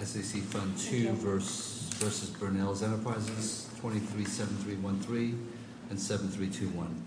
237313 and 7321.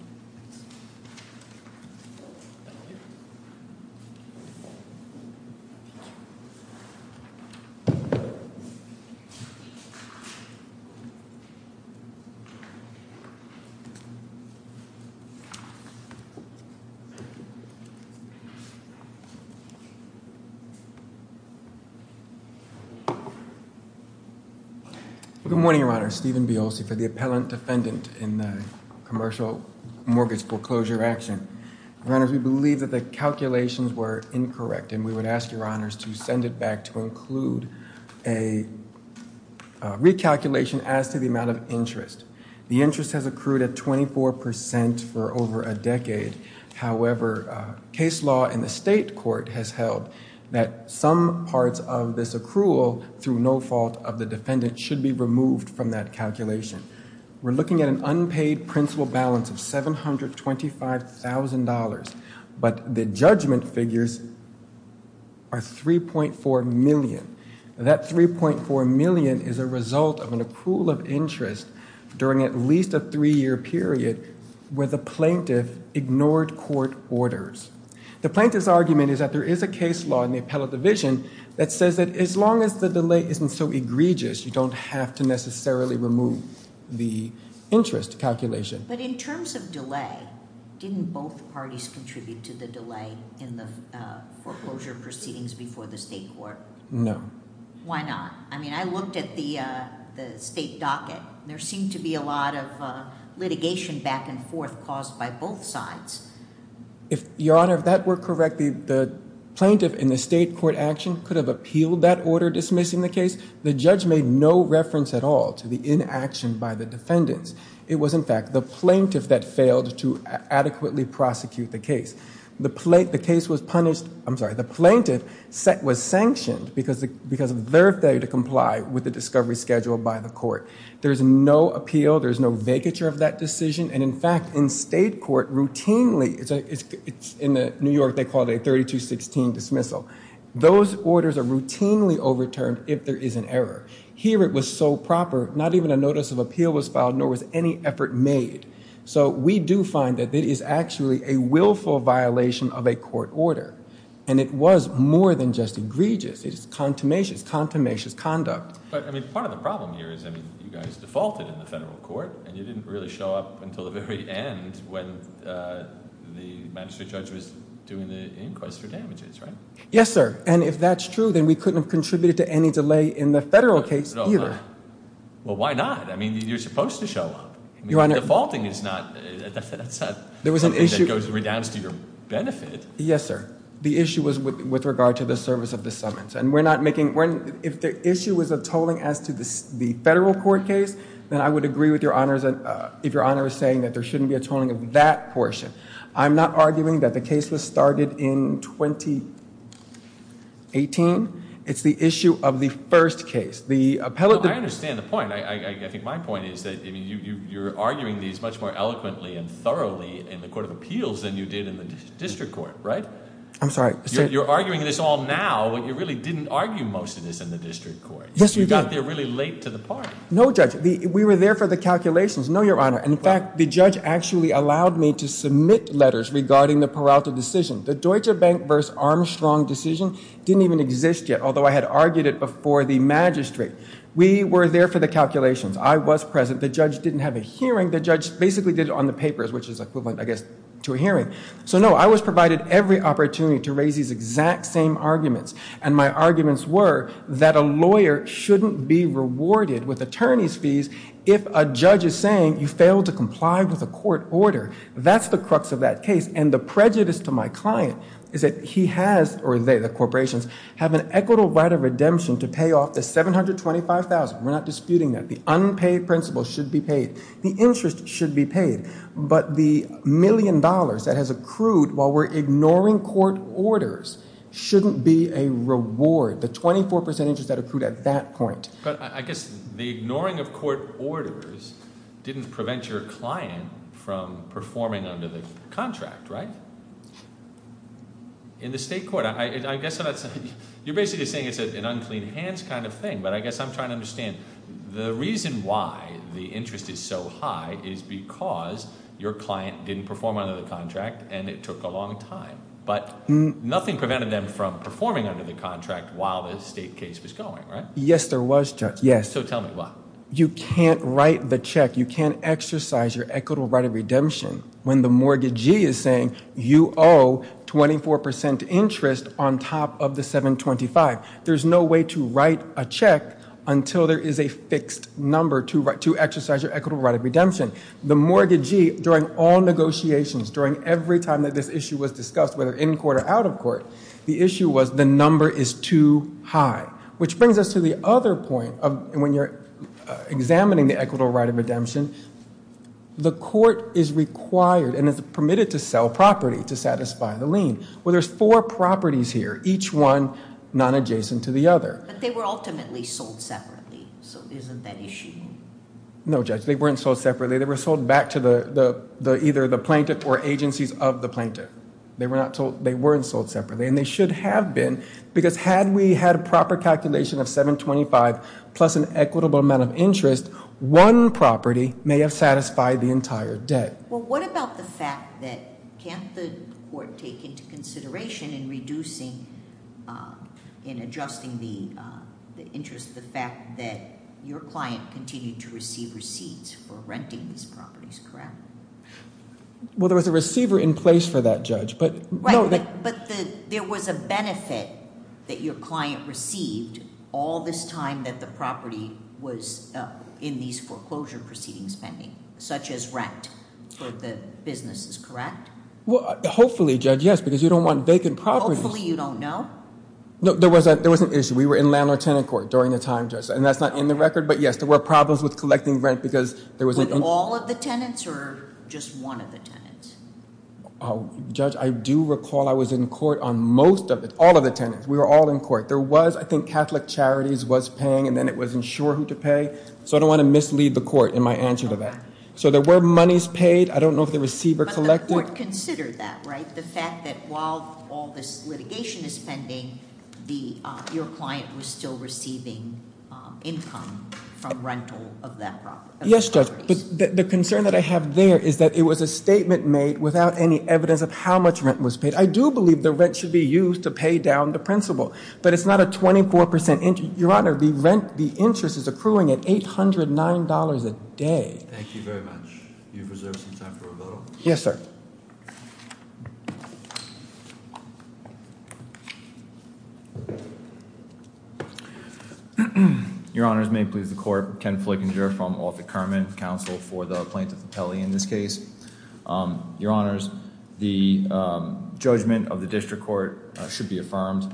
Good morning, Your Honors. Stephen Biolsi for the Appellant Defendant in the Commercial Mortgage Foreclosure Action. Your Honors, we believe that the calculations were incorrect and we would ask Your Honors to send it back to include a recalculation as to the amount of interest. The interest has accrued at 24% for over a decade. However, case law in the state court has held that some parts of this accrual through no fault of the defendant should be removed from that calculation. We're looking at an unpaid principal balance of $725,000, but the judgment figures are $3.4 million. That $3.4 million is a result of an accrual of interest during at least a three-year period where the plaintiff ignored court orders. The plaintiff's argument is that there is a case law in the appellate division that says that as long as the delay isn't so egregious, you don't have to necessarily remove the interest calculation. But in terms of delay, didn't both parties contribute to the delay in the foreclosure proceedings before the state court? No. Why not? I mean, I looked at the state docket. There seemed to be a lot of litigation back and forth caused by both sides. Your Honor, if that were correct, the plaintiff in the state court action could have appealed that order dismissing the case. The judge made no reference at all to the inaction by the defendants. It was, in fact, the plaintiff that failed to adequately prosecute the case. The case was punished, I'm sorry, the plaintiff was sanctioned because of their failure to comply with the discovery schedule by the court. There's no appeal. There's no vacature of that decision. And, in fact, in state court routinely, it's in New York, they call it a 3216 dismissal. Those orders are routinely overturned if there is an error. Here it was so proper, not even a notice of appeal was filed, nor was any effort made. So we do find that it is actually a willful violation of a court order. And it was more than just egregious. It is contumacious, contumacious conduct. But, I mean, part of the problem here is, I mean, you guys defaulted in the federal court and you didn't really show up until the very end when the magistrate judge was doing the inquest for damages, right? Yes, sir. And if that's true, then we couldn't have contributed to any delay in the federal case either. Well, why not? I mean, you're supposed to show up. Defaulting is not something that redounds to your benefit. Yes, sir. The issue was with regard to the service of the summons. And if the issue was a tolling as to the federal court case, then I would agree with your Honor if your Honor is saying that there shouldn't be a tolling of that portion. I'm not arguing that the case was started in 2018. It's the issue of the first case. I understand the point. I think my point is that you're arguing these much more eloquently and thoroughly in the court of appeals than you did in the district court, right? I'm sorry. You're arguing this all now, but you really didn't argue most of this in the district court. Yes, you did. You got there really late to the part. No, Judge. We were there for the calculations. No, your Honor. In fact, the judge actually allowed me to submit letters regarding the Peralta decision. The Deutsche Bank versus Armstrong decision didn't even exist yet, although I had argued it before the magistrate. We were there for the calculations. I was present. The judge didn't have a hearing. The judge basically did it on the papers, which is equivalent, I guess, to a hearing. So, no, I was provided every opportunity to raise these exact same arguments. And my arguments were that a lawyer shouldn't be rewarded with attorney's fees if a judge is saying you failed to comply with a court order. That's the crux of that case. And the prejudice to my client is that he has, or they, the corporations, have an equitable right of redemption to pay off the $725,000. We're not disputing that. The unpaid principal should be paid. The interest should be paid. But the million dollars that has accrued while we're ignoring court orders shouldn't be a reward, the 24% interest that accrued at that point. But I guess the ignoring of court orders didn't prevent your client from performing under the contract, right? In the state court, I guess that's – you're basically saying it's an unclean hands kind of thing. But I guess I'm trying to understand. The reason why the interest is so high is because your client didn't perform under the contract and it took a long time. But nothing prevented them from performing under the contract while the state case was going, right? Yes, there was, Judge, yes. So tell me why. You can't write the check. You can't exercise your equitable right of redemption when the mortgagee is saying you owe 24% interest on top of the $725,000. There's no way to write a check until there is a fixed number to exercise your equitable right of redemption. The mortgagee, during all negotiations, during every time that this issue was discussed, whether in court or out of court, the issue was the number is too high. Which brings us to the other point of when you're examining the equitable right of redemption, the court is required and is permitted to sell property to satisfy the lien. Well, there's four properties here, each one non-adjacent to the other. But they were ultimately sold separately. So isn't that issue? No, Judge, they weren't sold separately. They were sold back to either the plaintiff or agencies of the plaintiff. They weren't sold separately. And they should have been, because had we had a proper calculation of $725,000 plus an equitable amount of interest, one property may have satisfied the entire debt. Well, what about the fact that can't the court take into consideration in reducing, in adjusting the interest, the fact that your client continued to receive receipts for renting these properties, correct? Well, there was a receiver in place for that, Judge. But there was a benefit that your client received all this time that the property was in these foreclosure proceedings pending, such as rent. The business is correct? Well, hopefully, Judge, yes, because you don't want vacant properties. Hopefully you don't know? No, there was an issue. We were in landlord-tenant court during the time, Judge. And that's not in the record, but yes, there were problems with collecting rent because there was an issue. With all of the tenants or just one of the tenants? Judge, I do recall I was in court on most of it, all of the tenants. We were all in court. There was, I think, Catholic Charities was paying, and then it wasn't sure who to pay. So I don't want to mislead the court in my answer to that. So there were monies paid. I don't know if the receiver collected. But the court considered that, right? The fact that while all this litigation is pending, your client was still receiving income from rental of that property. Yes, Judge. The concern that I have there is that it was a statement made without any evidence of how much rent was paid. I do believe the rent should be used to pay down the principal. But it's not a 24% interest. Your Honor, the interest is accruing at $809 a day. Thank you very much. You've reserved some time for a vote. Yes, sir. Thank you. Your Honors, may it please the court. Ken Flickinger from Orfield Kerman, counsel for the plaintiff appellee in this case. Your Honors, the judgment of the district court should be affirmed.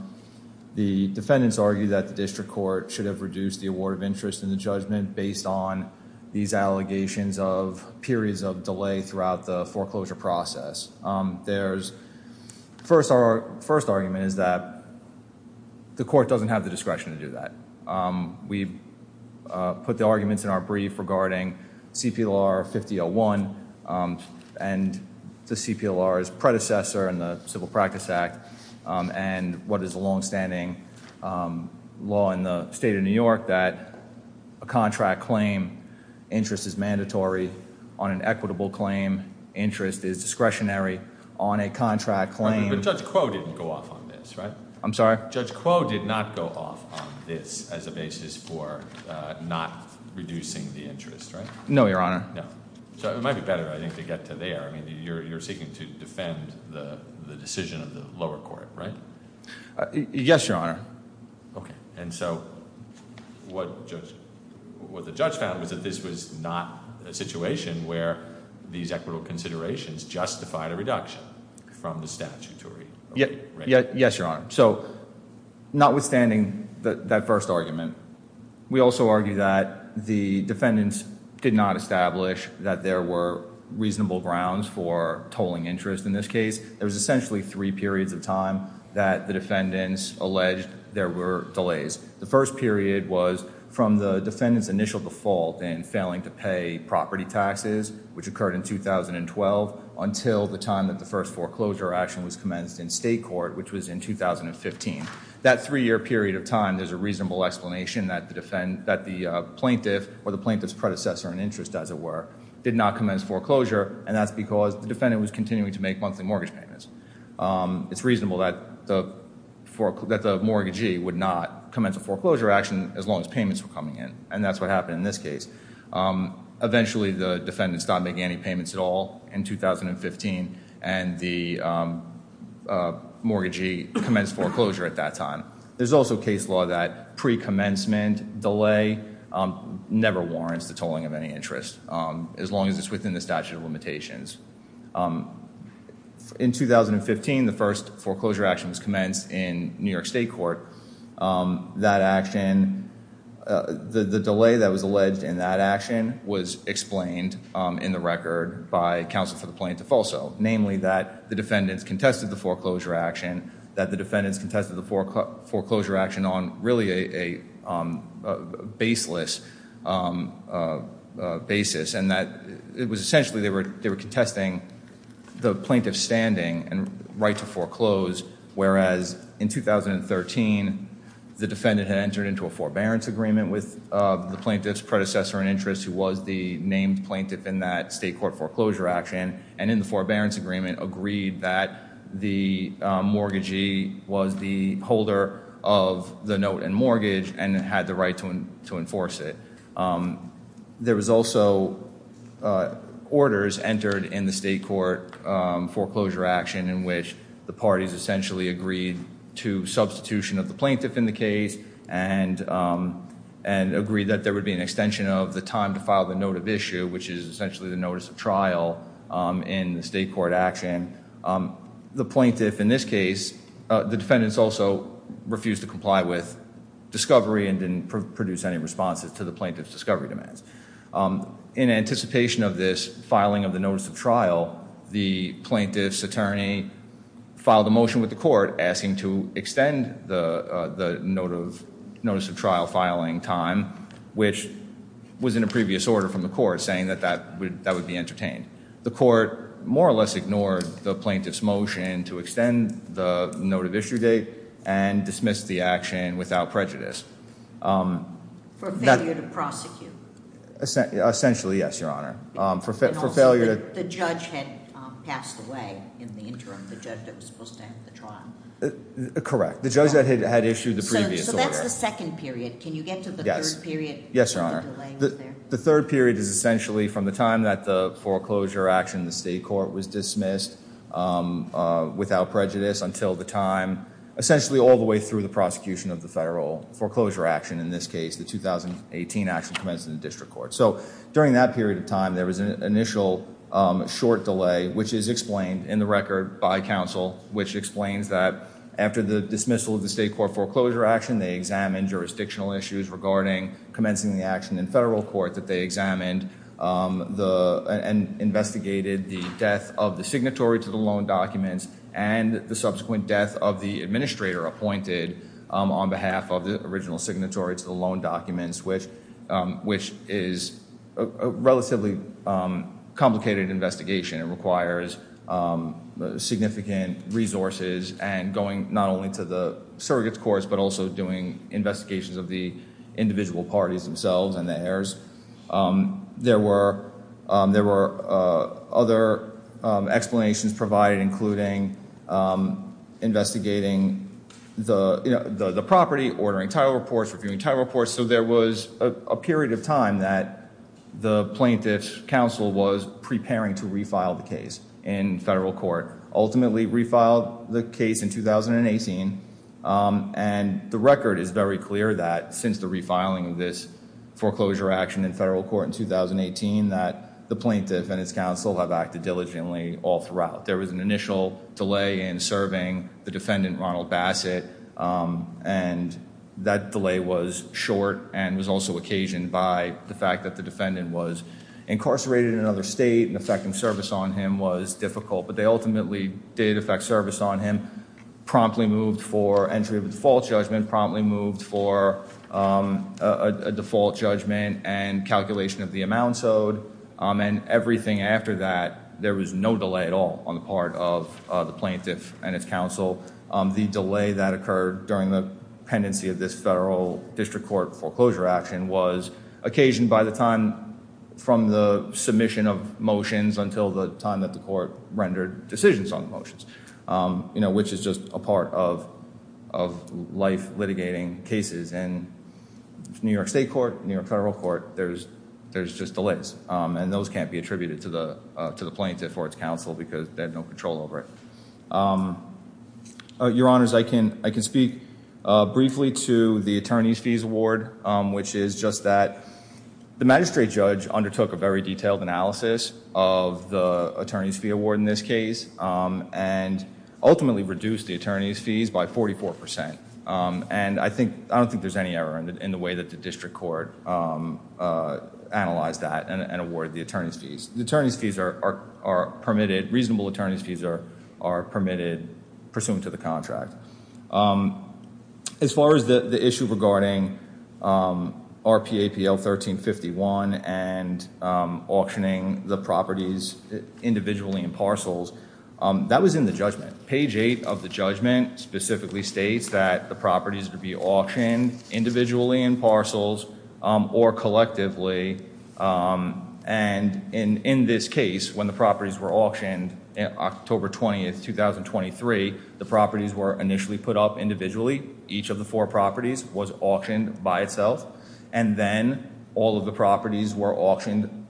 The defendants argue that the district court should have reduced the award of interest in the judgment based on these allegations of periods of delay throughout the foreclosure process. The first argument is that the court doesn't have the discretion to do that. We've put the arguments in our brief regarding CPLR 5001 and the CPLR's predecessor in the Civil Practice Act and what is a longstanding law in the state of New York that a contract claim, interest is mandatory on an equitable claim, interest is discretionary on a contract claim. But Judge Quo didn't go off on this, right? I'm sorry? Judge Quo did not go off on this as a basis for not reducing the interest, right? No, Your Honor. No. So it might be better, I think, to get to there. I mean, you're seeking to defend the decision of the lower court, right? Yes, Your Honor. Okay. And so what the judge found was that this was not a situation where these equitable considerations justified a reduction from the statutory rate. Yes, Your Honor. So notwithstanding that first argument, we also argue that the defendants did not establish that there were reasonable grounds for tolling interest in this case. There was essentially three periods of time that the defendants alleged there were delays. The first period was from the defendants' initial default in failing to pay property taxes, which occurred in 2012, until the time that the first foreclosure action was commenced in state court, which was in 2015. That three-year period of time, there's a reasonable explanation that the plaintiff, or the plaintiff's predecessor in interest, as it were, did not commence foreclosure, and that's because the defendant was continuing to make monthly mortgage payments. It's reasonable that the mortgagee would not commence a foreclosure action as long as payments were coming in, and that's what happened in this case. Eventually, the defendants stopped making any payments at all in 2015, and the mortgagee commenced foreclosure at that time. There's also case law that pre-commencement delay never warrants the tolling of any interest, as long as it's within the statute of limitations. In 2015, the first foreclosure action was commenced in New York state court. That action, the delay that was alleged in that action was explained in the record by counsel for the plaintiff also, namely that the defendants contested the foreclosure action, that the defendants contested the foreclosure action on really a baseless basis, and that it was essentially they were contesting the plaintiff's standing and right to foreclose, whereas in 2013, the defendant had entered into a forbearance agreement with the plaintiff's predecessor in interest, who was the named plaintiff in that state court foreclosure action, and in the forbearance agreement agreed that the mortgagee was the holder of the note and mortgage and had the right to enforce it. There was also orders entered in the state court foreclosure action in which the parties essentially agreed to substitution of the plaintiff in the case and agreed that there would be an extension of the time to file the note of issue, which is essentially the notice of trial in the state court action. The plaintiff in this case, the defendants also refused to comply with discovery and didn't produce any responses to the plaintiff's discovery demands. In anticipation of this filing of the notice of trial, the plaintiff's attorney filed a motion with the court asking to extend the notice of trial filing time, which was in a previous order from the court saying that that would be entertained. The court more or less ignored the plaintiff's motion to extend the note of issue date and dismissed the action without prejudice. For failure to prosecute? Essentially, yes, Your Honor. And also that the judge had passed away in the interim, the judge that was supposed to end the trial? Correct. The judge that had issued the previous order. So that's the second period. Can you get to the third period? Yes, Your Honor. The third period is essentially from the time that the foreclosure action in the state court was dismissed without prejudice until the time essentially all the way through the prosecution of the federal foreclosure action, in this case the 2018 action commenced in the district court. So during that period of time there was an initial short delay, which is explained in the record by counsel, which explains that after the dismissal of the state court foreclosure action, they examined jurisdictional issues regarding commencing the action in federal court that they examined and investigated the death of the signatory to the loan documents and the subsequent death of the administrator appointed on behalf of the original signatory to the loan documents, which is a relatively complicated investigation. It requires significant resources and going not only to the surrogates courts, but also doing investigations of the individual parties themselves and the heirs. There were other explanations provided, including investigating the property, ordering title reports, reviewing title reports. So there was a period of time that the plaintiff's counsel was preparing to refile the case in federal court, ultimately refiled the case in 2018, and the record is very clear that since the refiling of this foreclosure action in federal court in 2018, that the plaintiff and his counsel have acted diligently all throughout. There was an initial delay in serving the defendant, Ronald Bassett, and that delay was short and was also occasioned by the fact that the defendant was incarcerated in another state and effecting service on him was difficult, but they ultimately did effect service on him, promptly moved for entry of a default judgment, promptly moved for a default judgment and calculation of the amounts owed, and everything after that, there was no delay at all on the part of the plaintiff and his counsel. The delay that occurred during the pendency of this federal district court foreclosure action was occasioned by the time from the submission of motions until the time that the court rendered decisions on the motions, which is just a part of life litigating cases in New York state court, New York federal court, there's just delays, and those can't be attributed to the plaintiff or its counsel because they have no control over it. Your honors, I can speak briefly to the attorney's fees award, which is just that the magistrate judge undertook a very detailed analysis of the attorney's fee award in this case and ultimately reduced the attorney's fees by 44%, and I don't think there's any error in the way that the district court analyzed that and awarded the attorney's fees. The attorney's fees are permitted, reasonable attorney's fees are permitted pursuant to the contract. As far as the issue regarding RPAPL 1351 and auctioning the properties individually in parcels, that was in the judgment. Page 8 of the judgment specifically states that the properties would be auctioned individually in parcels or collectively, and in this case, when the properties were auctioned on October 20th, 2023, the properties were initially put up individually. Each of the four properties was auctioned by itself, and then all of the properties were auctioned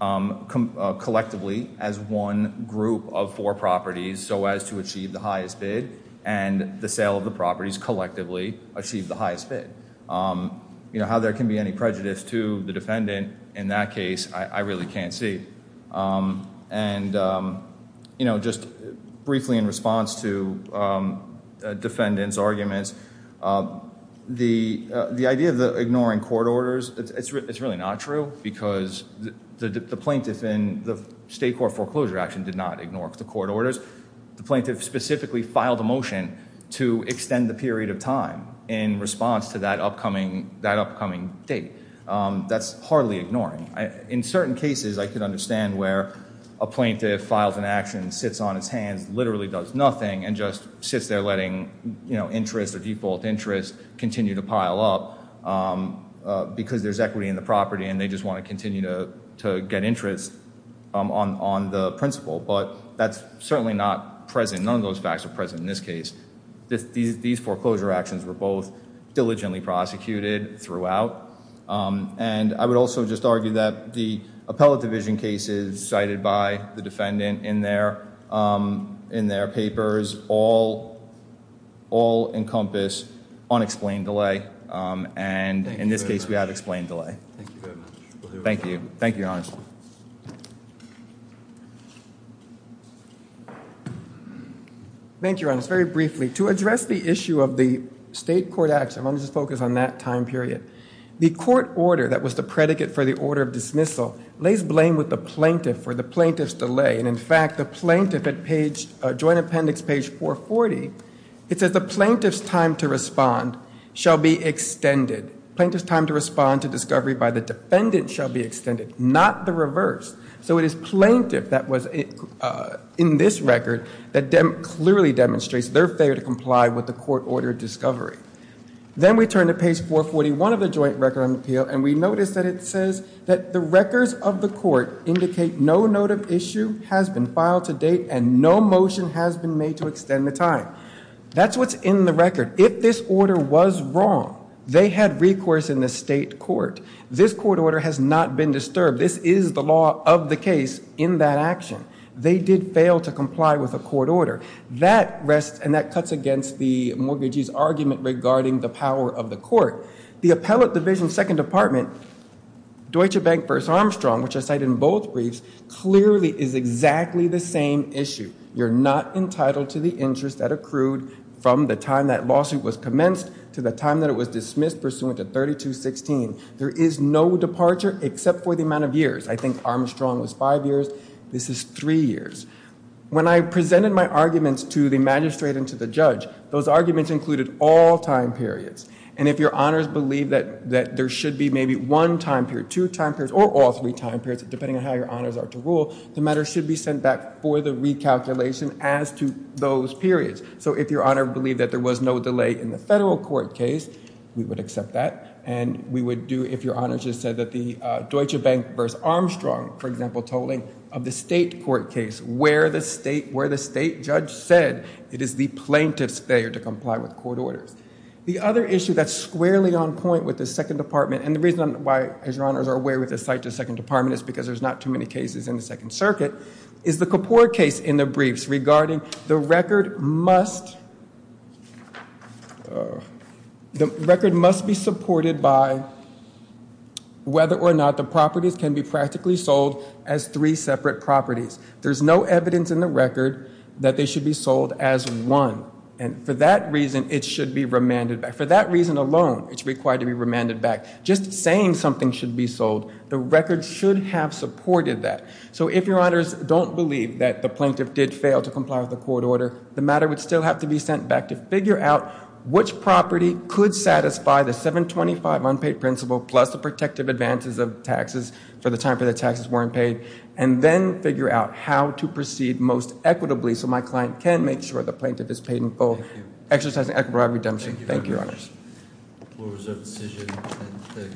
collectively as one group of four properties so as to achieve the highest bid, and the sale of the properties collectively achieved the highest bid. How there can be any prejudice to the defendant in that case, I really can't see. And just briefly in response to defendants' arguments, the idea of ignoring court orders, it's really not true, because the plaintiff in the state court foreclosure action did not ignore the court orders. The plaintiff specifically filed a motion to extend the period of time in response to that upcoming date. That's hardly ignoring. In certain cases, I can understand where a plaintiff files an action, sits on his hands, literally does nothing, and just sits there letting interest or default interest continue to pile up because there's equity in the property, and they just want to continue to get interest on the principle. But that's certainly not present. None of those facts are present in this case. These foreclosure actions were both diligently prosecuted throughout. And I would also just argue that the appellate division cases cited by the defendant in their papers all encompass unexplained delay, and in this case, we have explained delay. Thank you very much. Thank you. Thank you, Your Honor. Thank you, Your Honor. Very briefly, to address the issue of the state court action, I want to just focus on that time period. The court order that was the predicate for the order of dismissal lays blame with the plaintiff for the plaintiff's delay. And, in fact, the plaintiff at joint appendix page 440, it says the plaintiff's time to respond shall be extended. Plaintiff's time to respond to discovery by the defendant shall be extended, not the reverse. So it is plaintiff that was in this record that clearly demonstrates their failure to comply with the court order of discovery. Then we turn to page 441 of the joint record of appeal, and we notice that it says that the records of the court indicate no note of issue has been filed to date and no motion has been made to extend the time. That's what's in the record. If this order was wrong, they had recourse in the state court. This court order has not been disturbed. This is the law of the case in that action. They did fail to comply with the court order. That rests and that cuts against the mortgagee's argument regarding the power of the court. The appellate division second department, Deutsche Bank v. Armstrong, which I cite in both briefs, clearly is exactly the same issue. You're not entitled to the interest that accrued from the time that lawsuit was commenced to the time that it was dismissed pursuant to 3216. There is no departure except for the amount of years. I think Armstrong was five years. This is three years. When I presented my arguments to the magistrate and to the judge, those arguments included all time periods. And if your honors believe that there should be maybe one time period, two time periods, or all three time periods, depending on how your honors are to rule, the matter should be sent back for the recalculation as to those periods. So if your honor believed that there was no delay in the federal court case, we would accept that. And we would do if your honors just said that the Deutsche Bank v. Armstrong, for example, tolling of the state court case where the state judge said it is the plaintiff's failure to comply with court orders. The other issue that's squarely on point with the second department, and the reason why, as your honors are aware, with the second department is because there's not too many cases in the second circuit, is the Kapoor case in the briefs regarding the record must be supported by whether or not the properties can be practically sold as three separate properties. There's no evidence in the record that they should be sold as one. And for that reason, it should be remanded back. Just saying something should be sold, the record should have supported that. So if your honors don't believe that the plaintiff did fail to comply with the court order, the matter would still have to be sent back to figure out which property could satisfy the 725 unpaid principal plus the protective advances of taxes for the time period the taxes weren't paid, and then figure out how to proceed most equitably so my client can make sure the plaintiff is paid in full, exercising equitable redemption. Thank you, your honors. The floor is open to decision.